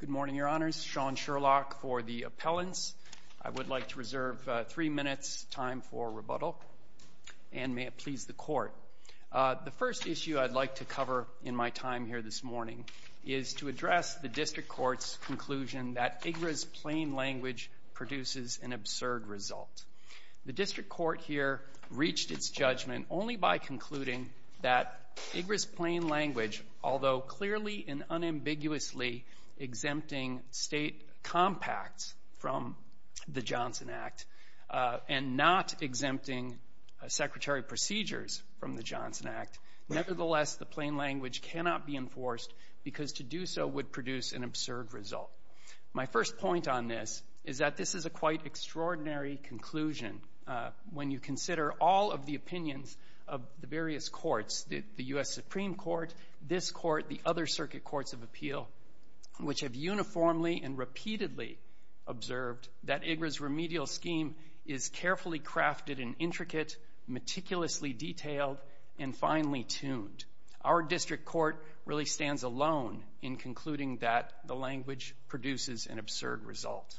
Good morning, Your Honors. Sean Sherlock for the appellants. I would like to reserve three minutes time for rebuttal, and may it please the Court. The first issue I'd like to cover in my time here this morning is to address the District Court's conclusion that IGRA's plain language produces an absurd result. The District Court here reached its judgment only by concluding that IGRA's plain language, although clearly and unambiguously exempting state compacts from the Johnson Act and not exempting secretary procedures from the Johnson Act, nevertheless, the plain language cannot be enforced because to do so would produce an absurd result. My first point on this is that this is a quite extraordinary conclusion. When you consider all of the opinions of the various courts, the U.S. Supreme Court, this Court, the other Circuit Courts of Appeal, which have uniformly and repeatedly observed that IGRA's remedial scheme is carefully crafted and intricate, meticulously detailed, and finely tuned, our District Court really stands alone in concluding that the language produces an absurd result.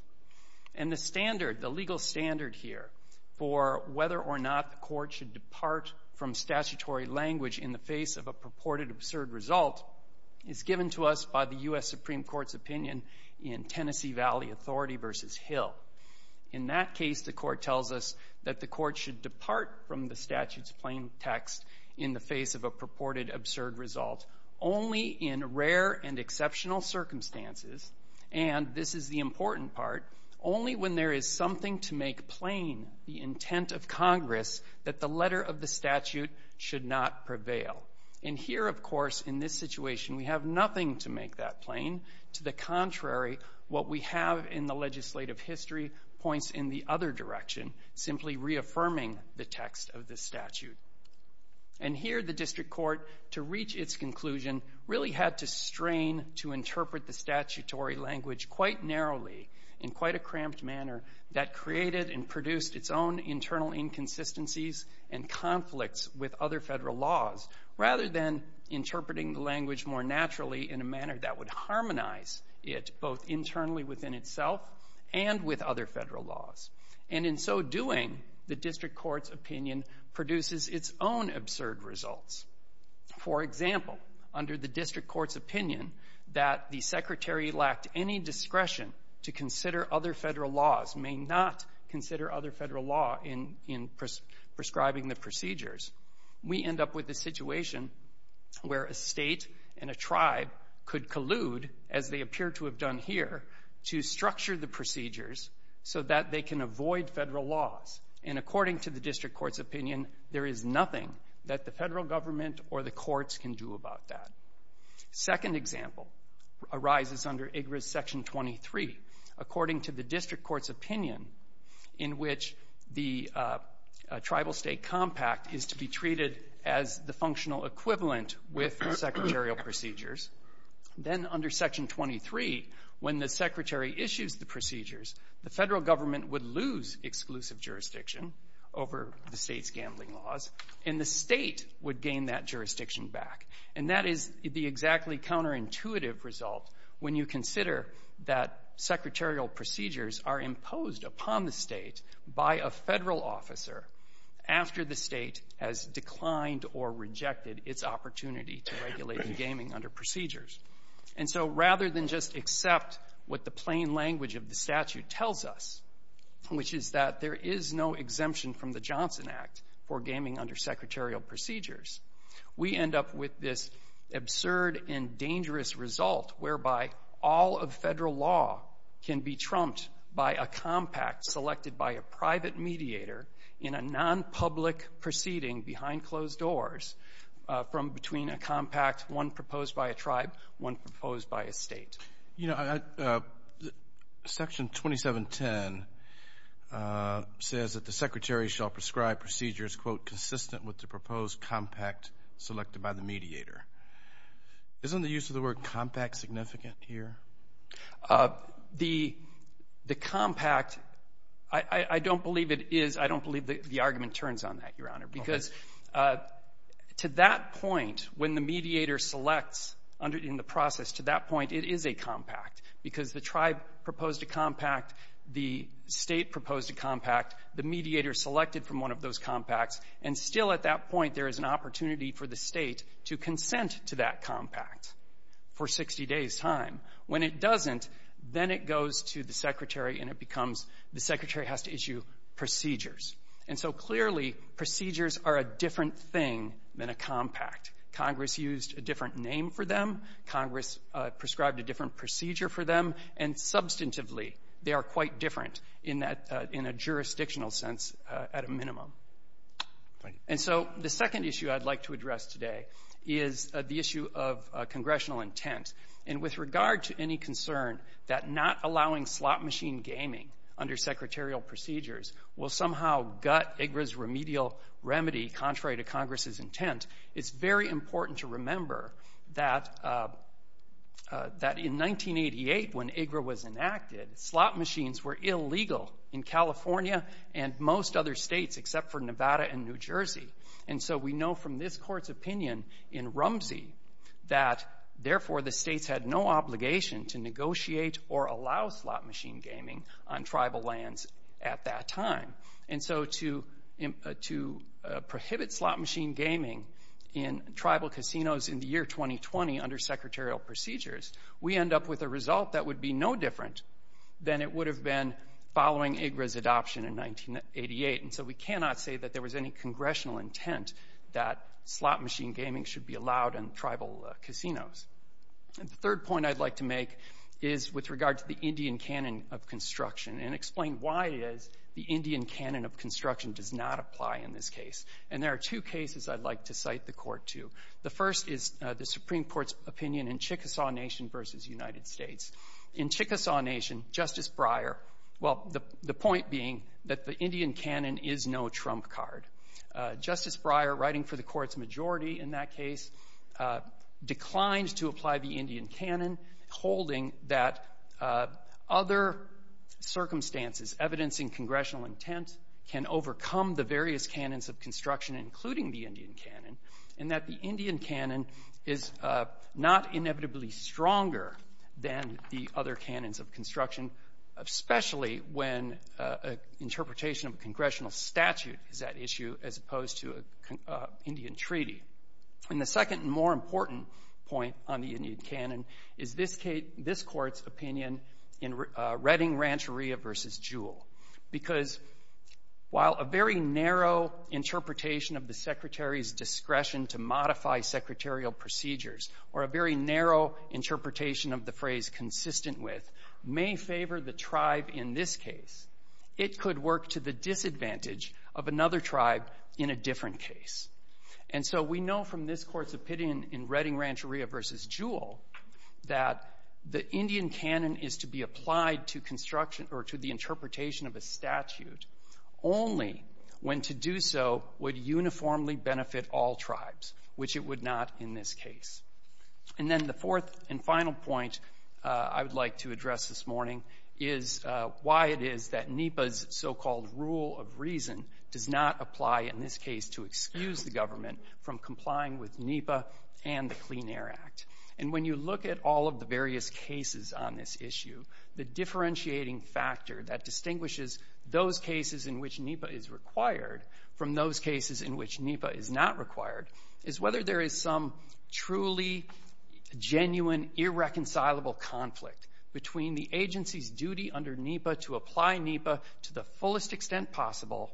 And the standard, the legal standard here for whether or not the Court should depart from statutory language in the face of a purported absurd result is given to us by the U.S. Supreme Court's opinion in Tennessee Valley Authority v. Hill. In that case, the Court tells us that the Court should depart from the statute's plain text in the face of a purported absurd result only in rare and exceptional circumstances, and this is the important part, only when there is something to make plain the intent of Congress that the letter of the statute should not prevail. And here, of course, in this situation, we have nothing to make that plain. To the contrary, what we have in the legislative history points in the other direction, simply reaffirming the text of the statute. And here, the District Court, to reach its conclusion, really had to strain to interpret the statutory language quite narrowly in quite a cramped manner that created and produced its own internal inconsistencies and conflicts with other federal laws, rather than interpreting the language more naturally in a manner that would harmonize it both internally within itself and with other federal laws. And in so doing, the District Court's opinion produces its own absurd results. For example, under the District Court's opinion that the Secretary lacked any discretion to consider other federal laws may not consider other federal law in prescribing the procedures, we end up with a situation where a state and a tribe could collude, as they appear to have done here, to structure the procedures so that they can avoid federal laws. And according to the District Court's opinion, there is nothing that the federal government or the courts can do about that. Second example arises under IGRS Section 23. According to the District Court's opinion, in which the tribal-state compact is to be treated as the functional equivalent with secretarial procedures, then under Section 23, when the Secretary issues the procedures, the federal government would lose exclusive jurisdiction over the state's gambling laws, and the state would gain that jurisdiction back. And that is the exactly counterintuitive result when you consider that secretarial procedures are imposed upon the state by a federal officer after the state has declined or rejected its opportunity to regulate gaming under procedures. And so rather than just accept what the plain language of the statute tells us, which is that there is no exemption from the Johnson Act for gaming under secretarial procedures, we end up with this absurd and dangerous result whereby all of federal law can be trumped by a compact selected by a private mediator in a non-public proceeding behind closed doors from between a compact, one proposed by a tribe, one proposed by a state. You know, Section 2710 says that the Secretary shall prescribe procedures, quote, consistent with the proposed compact selected by the mediator. Isn't the use of the word compact significant here? The compact, I don't believe it is. I don't believe the argument turns on that, Your Honor, because to that point, when the mediator selects in the process, to that point, it is a compact because the tribe proposed a compact, the state proposed a compact, the mediator selected from one of those compacts. And still at that point, there is an opportunity for the state to consent to that compact for 60 days' time. When it doesn't, then it goes to the Secretary and it becomes the Secretary has to issue procedures. And so clearly, procedures are a different thing than a compact. Congress used a different name for them. Congress prescribed a different procedure for them. And substantively, they are quite different in a jurisdictional sense at a minimum. And so the second issue I'd like to address today is the issue of congressional intent. And with regard to any concern that not allowing slot machine gaming under secretarial procedures will somehow gut IGRA's remedial remedy contrary to Congress's intent, it's very important to remember that in 1988, when IGRA was enacted, slot machines were illegal in California and most other states except for Nevada and New Jersey. And so we know from this Court's opinion in Rumsey that, therefore, the states had no obligation to negotiate or allow slot machine gaming on tribal lands at that time. And so to prohibit slot machine gaming in tribal casinos in the year 2020 under secretarial procedures, we end up with a result that would be no different than it would have been following IGRA's adoption in 1988. And so we cannot say that there was any congressional intent that slot machine gaming should be allowed in tribal casinos. And the third point I'd like to make is with regard to the Indian canon of construction and explain why it is the Indian canon of construction does not apply in this case. And there are two cases I'd like to cite the Court to. The first is the Supreme Court's opinion in Chickasaw Nation v. United States. In Chickasaw Nation, Justice Breyer — well, the point being that the Indian canon is no trump card. Justice Breyer, writing for the Court's majority in that case, declined to apply the Indian canon, holding that other circumstances, evidencing congressional intent, can overcome the various canons of construction, including the Indian canon, and that the Indian canon is not inevitably stronger than the other canons of construction, especially when an interpretation of a congressional statute is at issue as opposed to an Indian treaty. And the second and more important point on the Indian canon is this Court's opinion in discretion to modify secretarial procedures, or a very narrow interpretation of the phrase consistent with, may favor the tribe in this case. It could work to the disadvantage of another tribe in a different case. And so we know from this Court's opinion in Redding Rancheria v. Jewell that the Indian canon is to be applied to construction or to the tribe in this case. And then the fourth and final point I would like to address this morning is why it is that NEPA's so-called rule of reason does not apply in this case to excuse the government from complying with NEPA and the Clean Air Act. And when you look at all of the various cases on this issue, the differentiating factor that distinguishes those cases in which NEPA is required from those cases in which NEPA is not required is whether there is some truly genuine irreconcilable conflict between the agency's duty under NEPA to apply NEPA to the fullest extent possible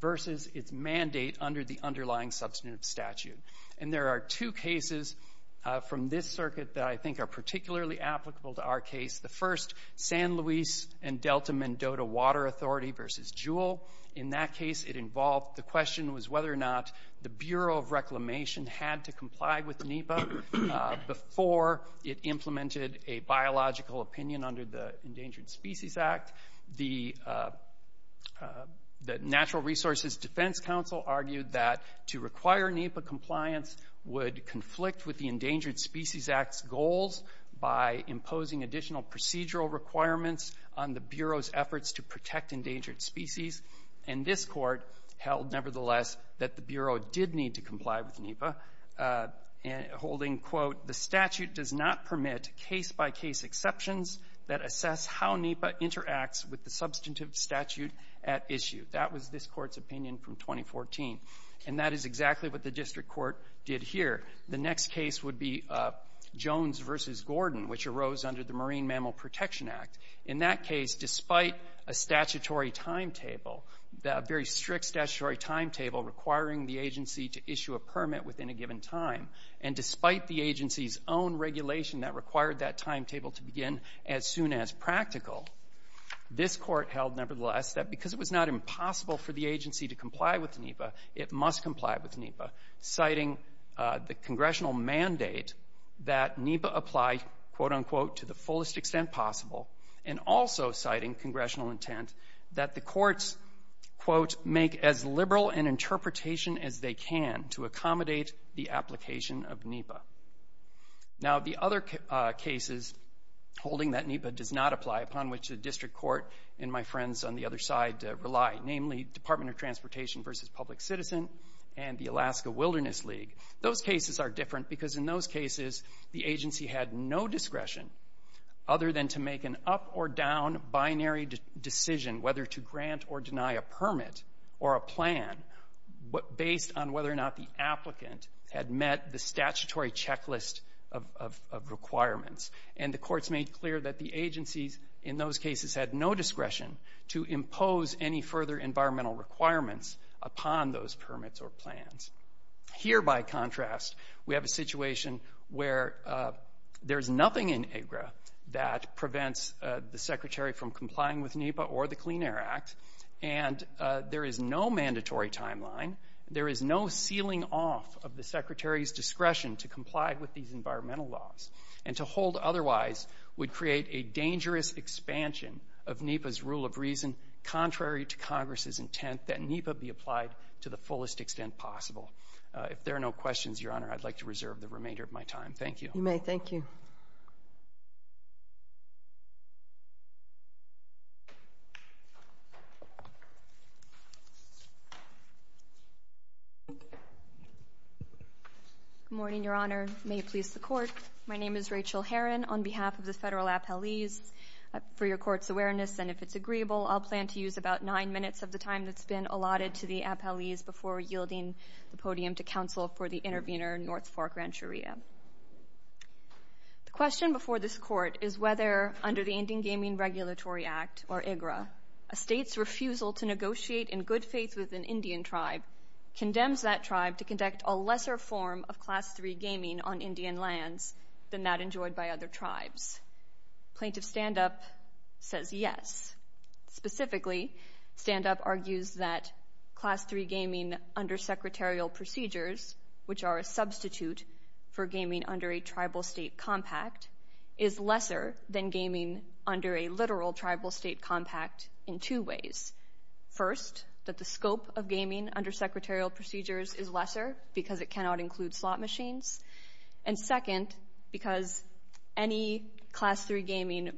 versus its mandate under the underlying substantive statute. And there are two cases from this circuit that I think are particularly applicable to our case. The first, San Luis and Delta-Mendota Water Authority v. Jewell. In that case, the question was whether or not the Bureau of Reclamation had to comply with NEPA before it implemented a biological opinion under the Endangered Species Act. The Natural Resources Defense Council argued that to require NEPA compliance would conflict with the Endangered Species Act and additional procedural requirements on the Bureau's efforts to protect endangered species. And this Court held, nevertheless, that the Bureau did need to comply with NEPA, holding, quote, the statute does not permit case-by-case exceptions that assess how NEPA interacts with the substantive statute at issue. That was this Court's opinion from 2014. And that is exactly what the district court did here. The next case would be Jones v. Gordon, which arose under the Marine Mammal Protection Act. In that case, despite a statutory timetable, a very strict statutory timetable requiring the agency to issue a permit within a given time, and despite the agency's own regulation that required that timetable to begin as soon as practical, this Court held, nevertheless, that because it was not impossible for the agency to comply with NEPA, citing the congressional mandate that NEPA apply, quote, unquote, to the fullest extent possible, and also citing congressional intent that the courts, quote, make as liberal an interpretation as they can to accommodate the application of NEPA. Now the other cases holding that NEPA does not apply, upon which the district court and my friends on the other side rely, namely Department of Transportation v. Public Citizen and the Alaska Wilderness League, those cases are different because in those cases the agency had no discretion other than to make an up-or-down binary decision, whether to grant or deny a permit or a plan, based on whether or not the applicant had met the statutory checklist of requirements. And the courts made clear that the agencies in those cases had no discretion to impose any further environmental requirements upon those permits or plans. Here, by contrast, we have a situation where there's nothing in AGRA that prevents the Secretary from complying with NEPA or the Clean Air Act, and there is no mandatory timeline, there is no sealing off of the Secretary's discretion to comply with these environmental laws, and to hold otherwise would create a that NEPA be applied to the fullest extent possible. If there are no questions, Your Honor, I'd like to reserve the remainder of my time. Thank you. You may. Thank you. Good morning, Your Honor. May it please the Court. My name is Rachel Heron on behalf of the Federal Appellees. For your Court's awareness, and if it's agreeable, I'll plan to use about nine minutes of the time that's available for questions. The question before this Court is whether, under the Indian Gaming Regulatory Act, or IGRA, a state's refusal to negotiate in good faith with an Indian tribe condemns that tribe to conduct a lesser form of Class III gaming on Indian lands than that enjoyed by other tribes. Plaintiff Standup says, yes. Specifically, Standup argues that the Indian that Class III gaming under secretarial procedures, which are a substitute for gaming under a tribal-state compact, is lesser than gaming under a literal tribal-state compact in two ways. First, that the scope of gaming under secretarial procedures is lesser because it cannot include slot machines. And second, because any Class III gaming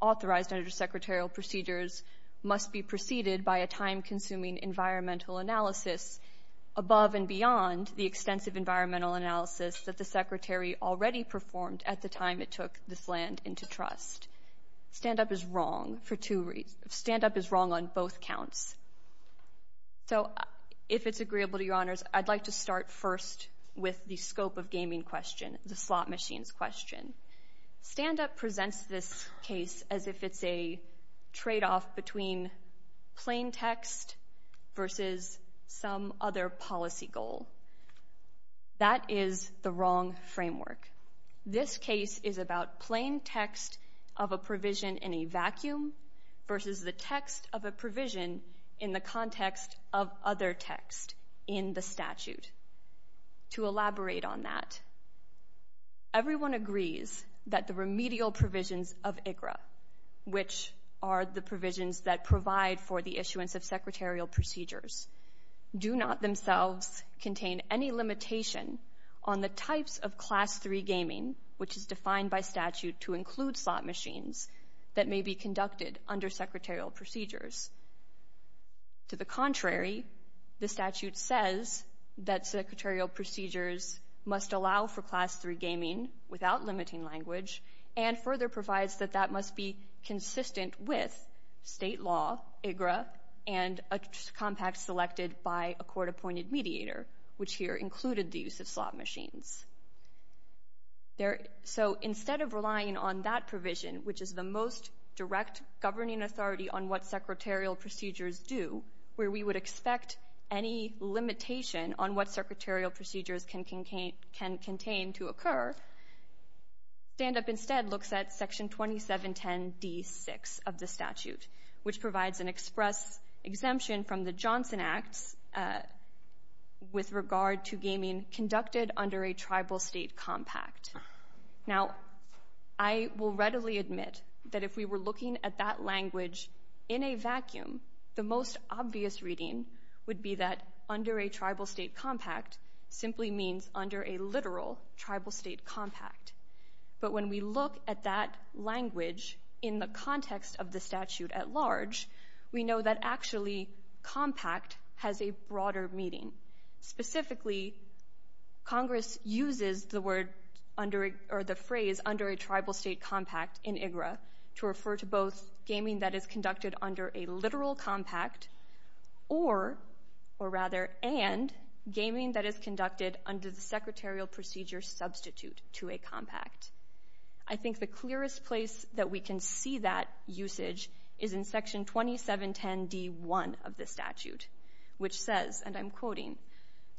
authorized under secretarial procedures must be preceded by a time-consuming environmental analysis above and beyond the extensive environmental analysis that the Secretary already performed at the time it took this land into trust. Standup is wrong for two reasons. Standup is wrong on both counts. So, if it's agreeable to Your Honors, I'd like to start first with the scope of gaming question, the slot machines question. Standup presents this case as if it's a tradeoff between plain text versus some other policy goal. That is the wrong framework. This case is about plain text of a provision in a vacuum versus the text of a provision in the context of other text in the statute. To elaborate on that, everyone agrees that the remedial provisions of IGRA, which are the provisions that provide for the issuance of secretarial procedures, do not themselves contain any limitation on the types of Class III gaming, which is defined by statute to include slot machines, that may be conducted under secretarial procedures. To the contrary, the statute says that secretarial procedures must allow for Class III gaming without limiting language and further provides that that must be consistent with state law, IGRA, and a compact selected by a court-appointed mediator, which here included the use of slot machines. So, instead of relying on that provision, which is the most direct governing authority on what secretarial procedures do, where we would expect any limitation on what secretarial procedures can contain to occur, STANDUP instead looks at Section 2710d6 of the statute, which provides an express exemption from the Johnson Acts with regard to gaming conducted under a tribal state compact. Now, I will readily admit that if we were looking at that language in a vacuum, the most obvious reading would be that under a tribal state compact simply means under a literal tribal state compact. But when we look at that language in the context of the statute at large, we know that actually compact has a broader meaning. Specifically, Congress uses the phrase under a tribal state compact in IGRA to refer to both gaming that is conducted under a literal compact or, or rather, and gaming that is conducted under the secretarial procedure substitute to a compact. I think the clearest place that we can see that usage is in Section 2710d1 of the statute, which says, and I'm quoting,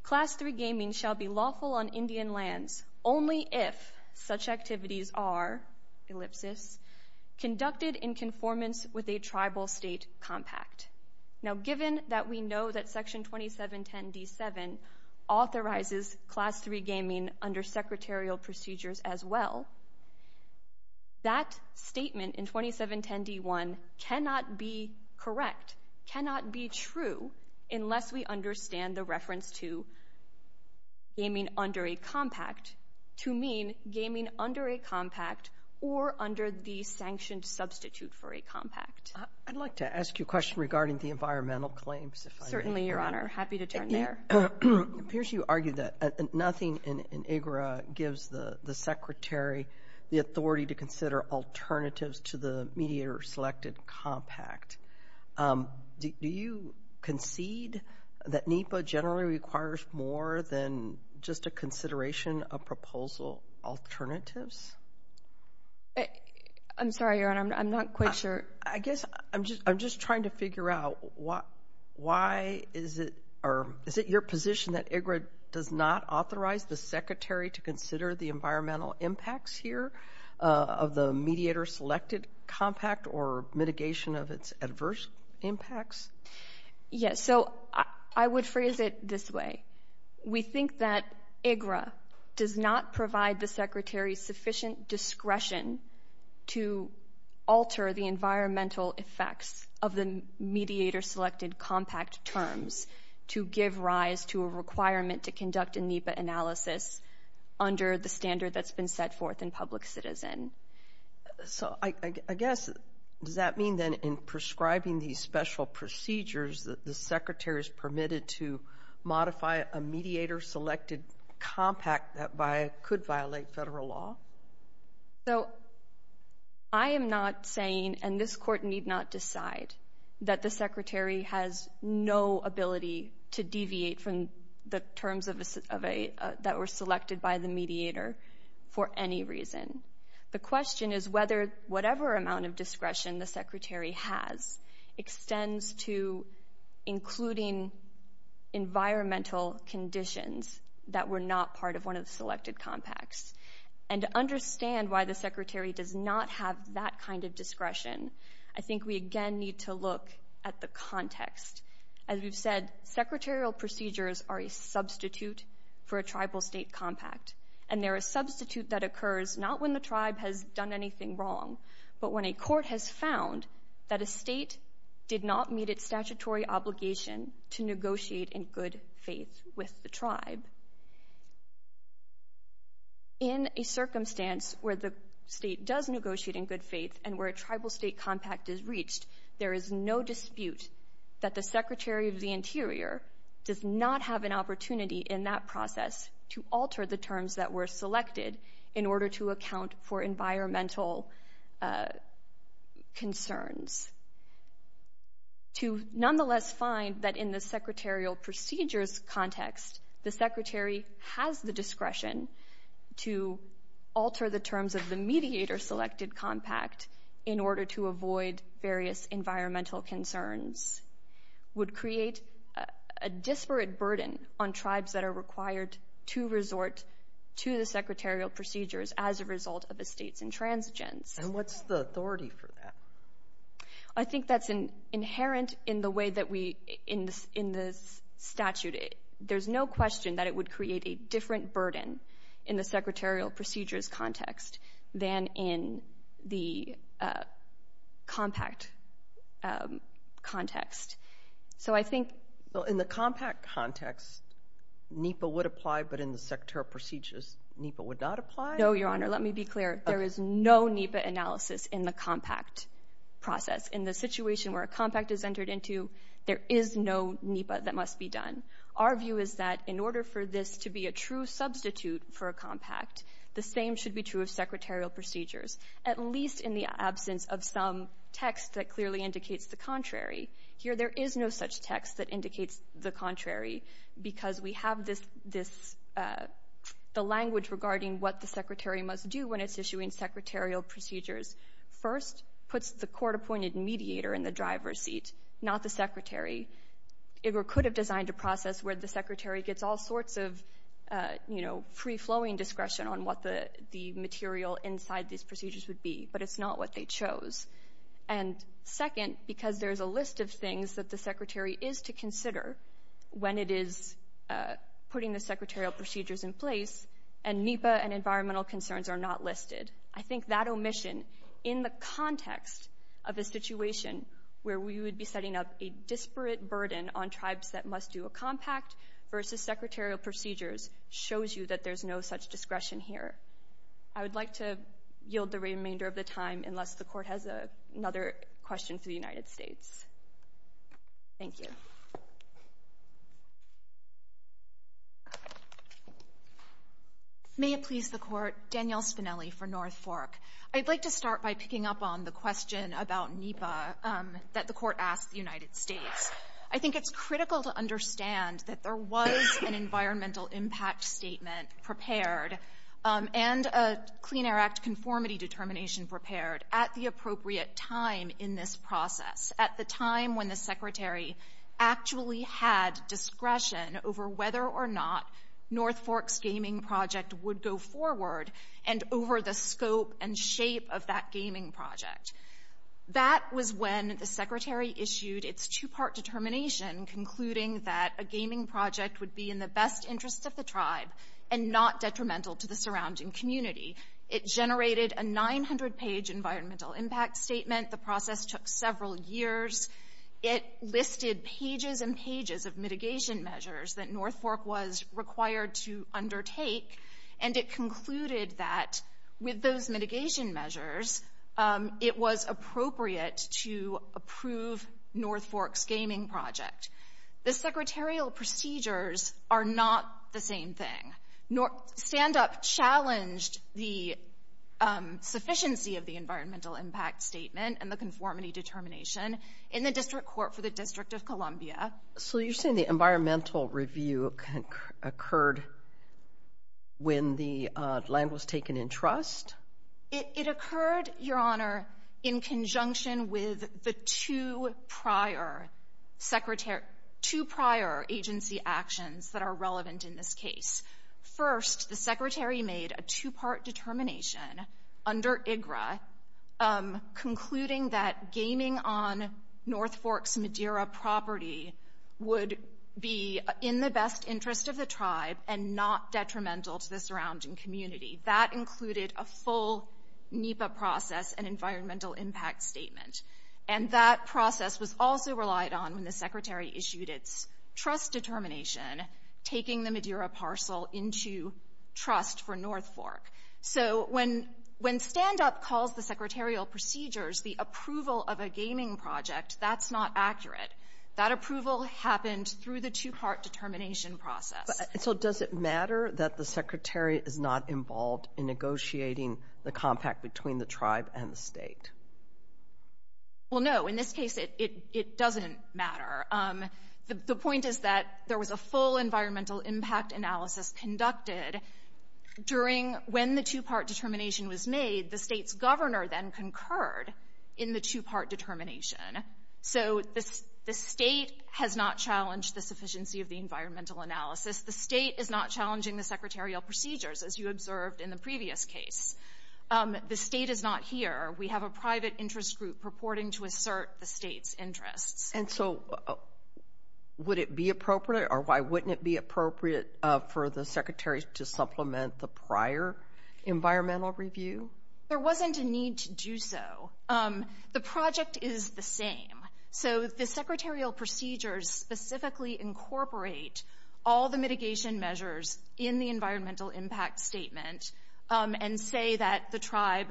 Class III gaming shall be lawful on Indian lands only if such activities are, ellipsis, conducted in conformance with a tribal state compact. Now, given that we know that Section 2710d7 authorizes Class III gaming under secretarial procedures as well, that statement in 2710d1 cannot be correct, cannot be true unless we understand the reference to gaming under a compact to mean gaming under a compact or under the sanctioned substitute for a compact. I'd like to ask you a question regarding the environmental claims. Certainly, Your Honor. Happy to turn there. It appears you argue that nothing in IGRA gives the Secretary the authority to consider alternatives to the mediator-selected compact. Do you concede that NEPA generally requires more than just a consideration of proposal alternatives? I'm sorry, Your Honor. I'm not quite sure. I guess I'm just trying to figure out why is it, or is it your position that IGRA does not compact or mitigation of its adverse impacts? Yes, so I would phrase it this way. We think that IGRA does not provide the Secretary sufficient discretion to alter the environmental effects of the mediator-selected compact terms to give rise to a requirement to conduct a NEPA analysis under the standard that's been set forth in public citizen. So I guess, does that mean then in prescribing these special procedures that the Secretary is permitted to modify a mediator-selected compact that could violate federal law? So I am not saying, and this Court need not decide, that the Secretary has no ability to deviate from the terms that were selected by the mediator for any reason. The question is whether whatever amount of discretion the Secretary has extends to including environmental conditions that were not part of one of the selected compacts. And to understand why the Secretary does not have that kind of discretion, I think we again need to look at the context. As we've said, secretarial procedures are a substitute for a tribal-state compact, and they're a substitute that occurs not when the tribe has done anything wrong, but when a court has found that a state did not meet its statutory obligation to negotiate in good faith with the tribe. In a circumstance where the state does negotiate in good faith and where a tribal-state compact is reached, there is no dispute that the Secretary of the Interior does not have an opportunity in that process to alter the terms that were selected in order to account for environmental concerns. To nonetheless find that in the secretarial procedures context, the Secretary has the discretion to alter the terms of the mediator-selected compact in order to avoid various environmental concerns would create a disparate burden on tribes that are required to resort to the secretarial procedures as a result of a state's intransigence. And what's the authority for that? I think that's inherent in the way that we in the statute. There's no question that it would create a different burden in the secretarial procedures context than in the compact context. So I think... Well, in the compact context, NEPA would apply, but in the secretarial procedures, NEPA would not apply? No, Your Honor. Let me be clear. There is no NEPA analysis in the compact process. In the situation where a compact is entered into, there is no NEPA that must be done. Our view is that in order for this to be a true substitute for a compact, the same should be true of secretarial procedures, at least in the absence of some text that clearly indicates the contrary. Here there is no such text that indicates the contrary because we have the language regarding what the secretary must do when it's issuing secretarial procedures. First, puts the court-appointed mediator in the driver's seat, not the secretary. It could have designed a process where the secretary gets all sorts of, you know, free-flowing discretion on what the material inside these procedures would be, but it's not what they chose. And second, because there is a list of things that the secretary is to consider when it is putting the secretarial procedures in place, and NEPA and environmental concerns are not listed. I think that omission in the context of a situation where we would be setting up a disparate burden on tribes that must do a compact versus secretarial procedures shows you that there's no such discretion here. I would like to yield the remainder of the time unless the court has another question for the United States. Thank you. May it please the court, Danielle Spinelli for North Fork. I'd like to start by picking up on the question about NEPA that the court asked the United States. I think it's critical to understand that there was an environmental impact statement prepared and a Clean Air Act conformity determination prepared at the appropriate time in this process, at the time when the secretary actually had discretion over whether or not North Fork's gaming project would go forward and over the scope and shape of that gaming project. That was when the secretary issued its two-part determination concluding that a gaming project would be in the best interest of the tribe and not detrimental to the surrounding community. It generated a 900-page environmental impact statement. The process took several years. It listed pages and pages of mitigation measures that North Fork was required to undertake, and it concluded that with those mitigation measures, it was appropriate to approve North Fork's gaming project. The secretarial procedures are not the same thing. Standup challenged the sufficiency of the environmental impact statement and the conformity determination in the district court for the District of Columbia. So you're saying the environmental review occurred when the land was taken in trust? It occurred, Your Honor, in conjunction with the two prior agency actions that are relevant in this case. First, the secretary made a two-part determination under IGRA concluding that gaming on North Fork's Madeira property would be in the best interest of the tribe and not detrimental to the surrounding community. That included a full NEPA process and environmental impact statement. And that process was also relied on when the secretary issued its trust determination, taking the Madeira parcel into trust for North Fork. So when Standup calls the secretarial procedures the approval of a gaming project, that's not accurate. That approval happened through the two-part determination process. So does it matter that the secretary is not involved in negotiating the compact between the tribe and the state? Well, no. In this case, it doesn't matter. The point is that there was a full environmental impact analysis conducted during when the two-part determination was made. The state's governor then concurred in the two-part determination. So the state has not challenged the sufficiency of the environmental analysis. The state is not challenging the secretarial procedures, as you observed in the previous case. The state is not here. We have a private interest group purporting to assert the state's interests. And so would it be appropriate or why wouldn't it be appropriate for the secretary to supplement the prior environmental review? There wasn't a need to do so. The project is the same. So the secretarial procedures specifically incorporate all the mitigation measures in the environmental impact statement and say that the tribe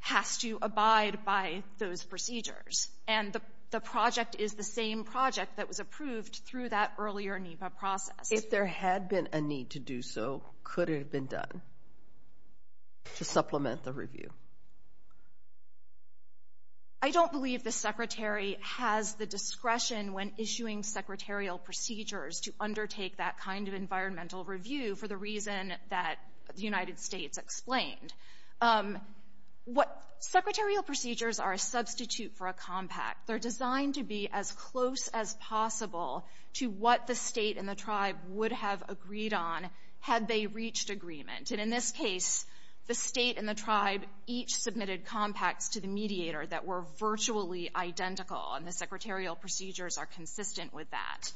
has to abide by those procedures. And the project is the same project that was approved through that earlier NEPA process. If there had been a need to do so, could it have been done to supplement the review? I don't believe the secretary has the discretion when issuing secretarial procedures to undertake that kind of environmental review for the reason that the United States explained. Secretarial procedures are a substitute for a compact. They're designed to be as close as possible to what the state and the tribe would have agreed on had they reached agreement. And in this case, the state and the tribe each submitted compacts to the mediator that were virtually identical, and the secretarial procedures are consistent with that.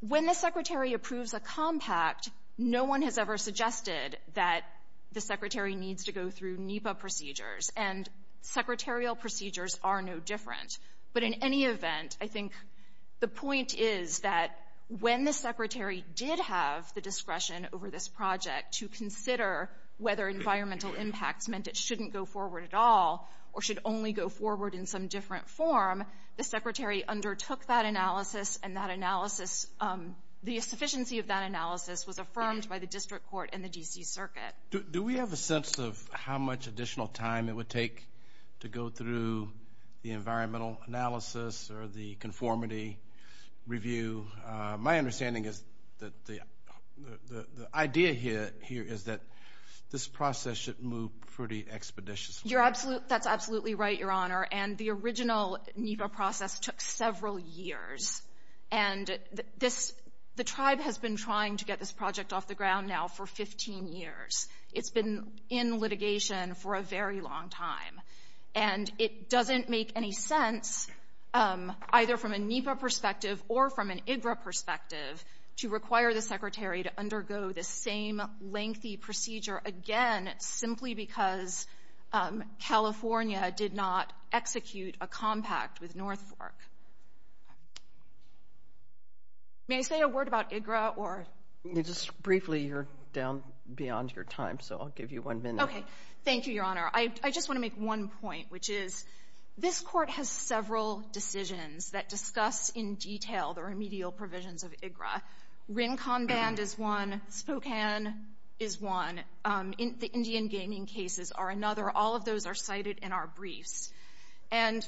When the secretary approves a compact, no one has ever suggested that the secretary needs to go through NEPA procedures, and secretarial procedures are no different. But in any event, I think the point is that when the secretary did have the discretion over this project to consider whether environmental impacts meant it shouldn't go forward at all or should only go forward in some different form, the secretary undertook that analysis, and the sufficiency of that analysis was affirmed by the district court and the D.C. Circuit. Do we have a sense of how much additional time it would take to go through the environmental analysis or the conformity review? My understanding is that the idea here is that this process should move pretty expeditiously. That's absolutely right, Your Honor. And the original NEPA process took several years, and the tribe has been trying to get this project off the ground now for 15 years. It's been in litigation for a very long time, and it doesn't make any sense either from a NEPA perspective or from an IGRA perspective to require the secretary to undergo this same lengthy procedure again simply because California did not execute a compact with North Fork. May I say a word about IGRA or — Just briefly, you're down beyond your time, so I'll give you one minute. Okay. Thank you, Your Honor. I just want to make one point, which is this Court has several decisions that discuss in detail the remedial provisions of IGRA. Rincon Band is one. Spokane is one. The Indian gaming cases are another. All of those are cited in our briefs. And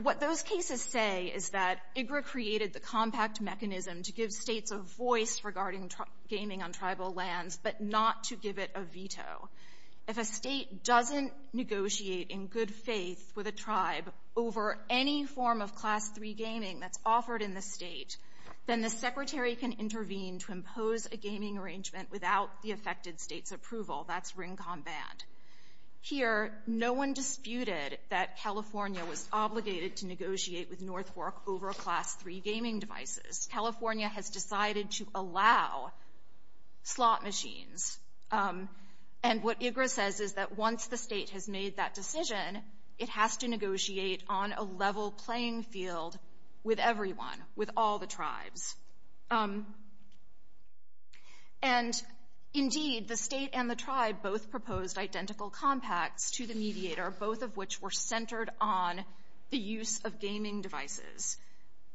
what those cases say is that IGRA created the compact mechanism to give states a voice regarding gaming on tribal lands but not to give it a veto. If a state doesn't negotiate in good faith with a tribe over any form of Class III gaming that's offered in the state, then the secretary can intervene to impose a gaming arrangement without the affected state's approval. That's Rincon Band. Here, no one disputed that California was obligated to negotiate with North Fork over Class III gaming devices. California has decided to allow slot machines. And what IGRA says is that once the state has made that decision, it has to negotiate on a level playing field with everyone, with all the tribes. And indeed, the state and the tribe both proposed identical compacts to the mediator, both of which were centered on the use of gaming devices.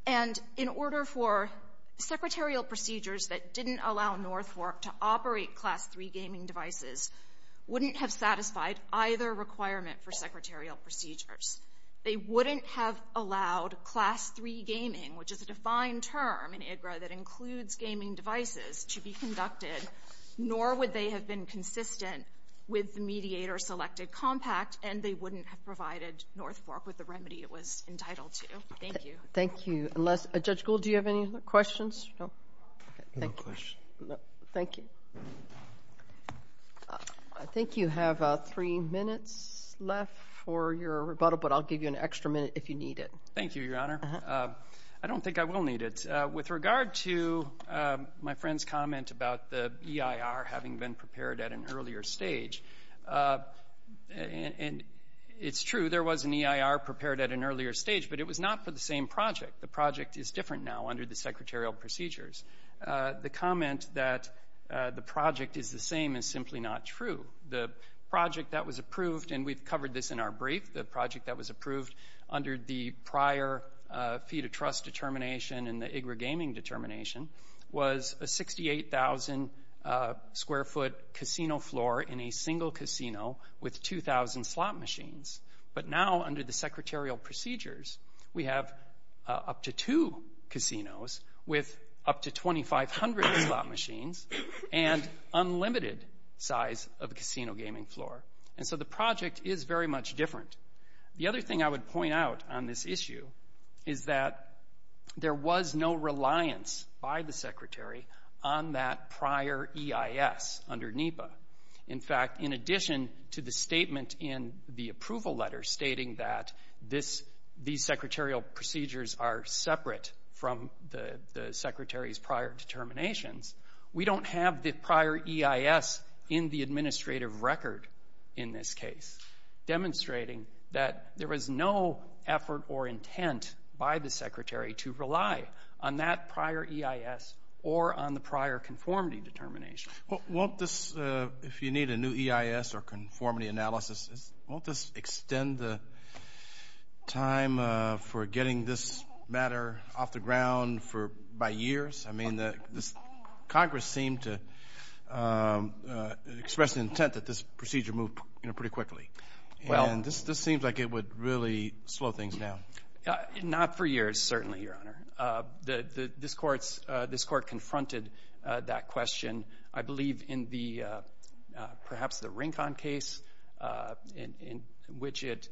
And in order for secretarial procedures that didn't allow North Fork to operate Class III gaming devices wouldn't have satisfied either requirement for secretarial procedures. They wouldn't have allowed Class III gaming, which is a defined term in IGRA that includes gaming devices, to be conducted, nor would they have been consistent with the mediator-selected compact, and they wouldn't have provided North Fork with the remedy it was entitled to. Thank you. Thank you. Unless — Judge Gould, do you have any other questions? No? No questions. Thank you. I think you have three minutes left for your rebuttal, but I'll give you an extra minute if you need it. Thank you, Your Honor. I don't think I will need it. With regard to my friend's comment about the EIR having been prepared at an earlier stage, and it's true, there was an EIR prepared at an earlier stage, but it was not for the same project. The project is different now under the secretarial procedures. The comment that the project is the same is simply not true. The project that was approved, and we've covered this in our brief, the project that was approved under the prior fee-to-trust determination and the IGRA gaming determination was a 68,000-square-foot casino floor in a single casino with 2,000 slot machines. But now under the secretarial procedures, we have up to two casinos with up to 2,500 slot machines and unlimited size of casino gaming floor. And so the project is very much different. The other thing I would point out on this issue is that there was no reliance by the Secretary on that prior EIS under NEPA. In fact, in addition to the statement in the approval letter stating that these secretarial procedures are separate from the Secretary's prior determinations, we don't have the prior EIS in the administrative record in this case, demonstrating that there was no effort or intent by the Secretary to rely on that prior EIS or on the prior conformity determination. Won't this, if you need a new EIS or conformity analysis, won't this extend the time for getting this matter off the ground by years? I mean, Congress seemed to express intent that this procedure move pretty quickly. And this seems like it would really slow things down. Not for years, certainly, Your Honor. This Court confronted that question. I believe in perhaps the Rincon case, in which it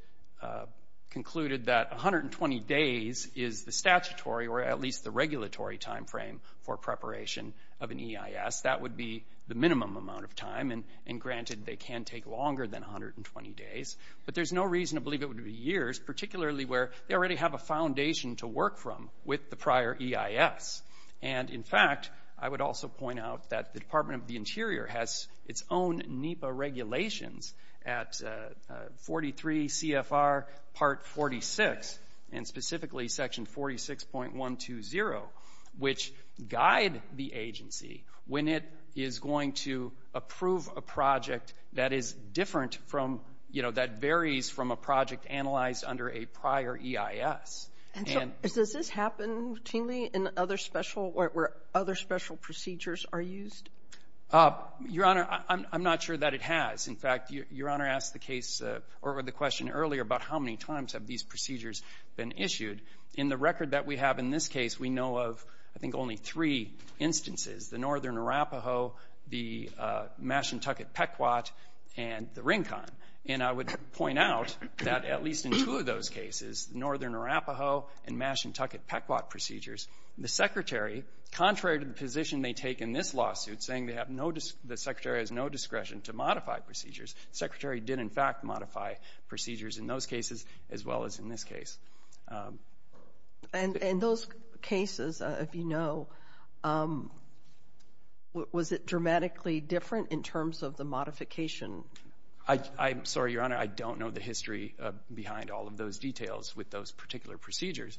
concluded that 120 days is the statutory or at least the regulatory time frame for preparation of an EIS. That would be the minimum amount of time. And granted, they can take longer than 120 days. But there's no reason to believe it would be years, particularly where they already have a foundation to work from with the prior EIS. And, in fact, I would also point out that the Department of the Interior has its own NEPA regulations at 43 CFR Part 46, and specifically Section 46.120, which guide the agency when it is going to approve a project that is different from, you know, that varies from a project analyzed under a prior EIS. And so does this happen routinely in other special or where other special procedures are used? Your Honor, I'm not sure that it has. In fact, Your Honor asked the case or the question earlier about how many times have these procedures been issued. In the record that we have in this case, we know of, I think, only three instances, the Northern Arapaho, the Mashantucket Pequot, and the Rincon. And I would point out that at least in two of those cases, the Northern Arapaho and Mashantucket Pequot procedures, the Secretary, contrary to the position they take in this lawsuit, saying the Secretary has no discretion to modify procedures, the Secretary did, in fact, modify procedures in those cases as well as in this case. And in those cases, if you know, was it dramatically different in terms of the modification? I'm sorry, Your Honor, I don't know the history behind all of those details with those particular procedures.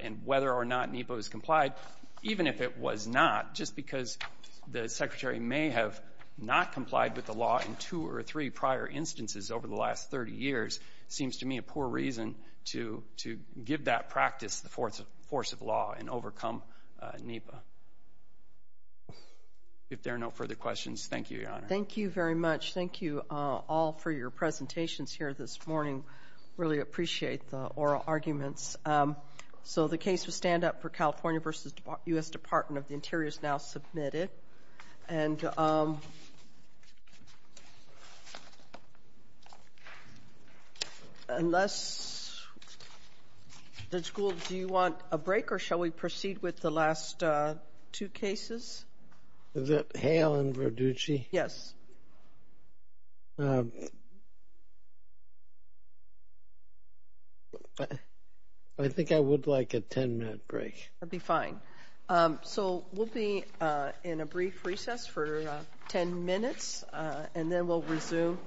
And whether or not NEPA was complied, even if it was not, just because the Secretary may have not complied with the law in two or three prior instances over the last 30 years seems to me a poor reason to give that practice the force of law and overcome NEPA. If there are no further questions, thank you, Your Honor. Thank you very much. Thank you all for your presentations here this morning. Really appreciate the oral arguments. So the case of stand-up for California v. U.S. Department of the Interior is now submitted. And unless the school, do you want a break, or shall we proceed with the last two cases? Is it Hale and Verducci? Yes. I think I would like a 10-minute break. That would be fine. So we'll be in a brief recess for 10 minutes, and then we'll resume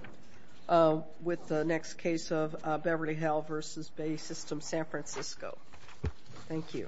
with the next case of Beverly Hill v. Bay System, San Francisco. Thank you.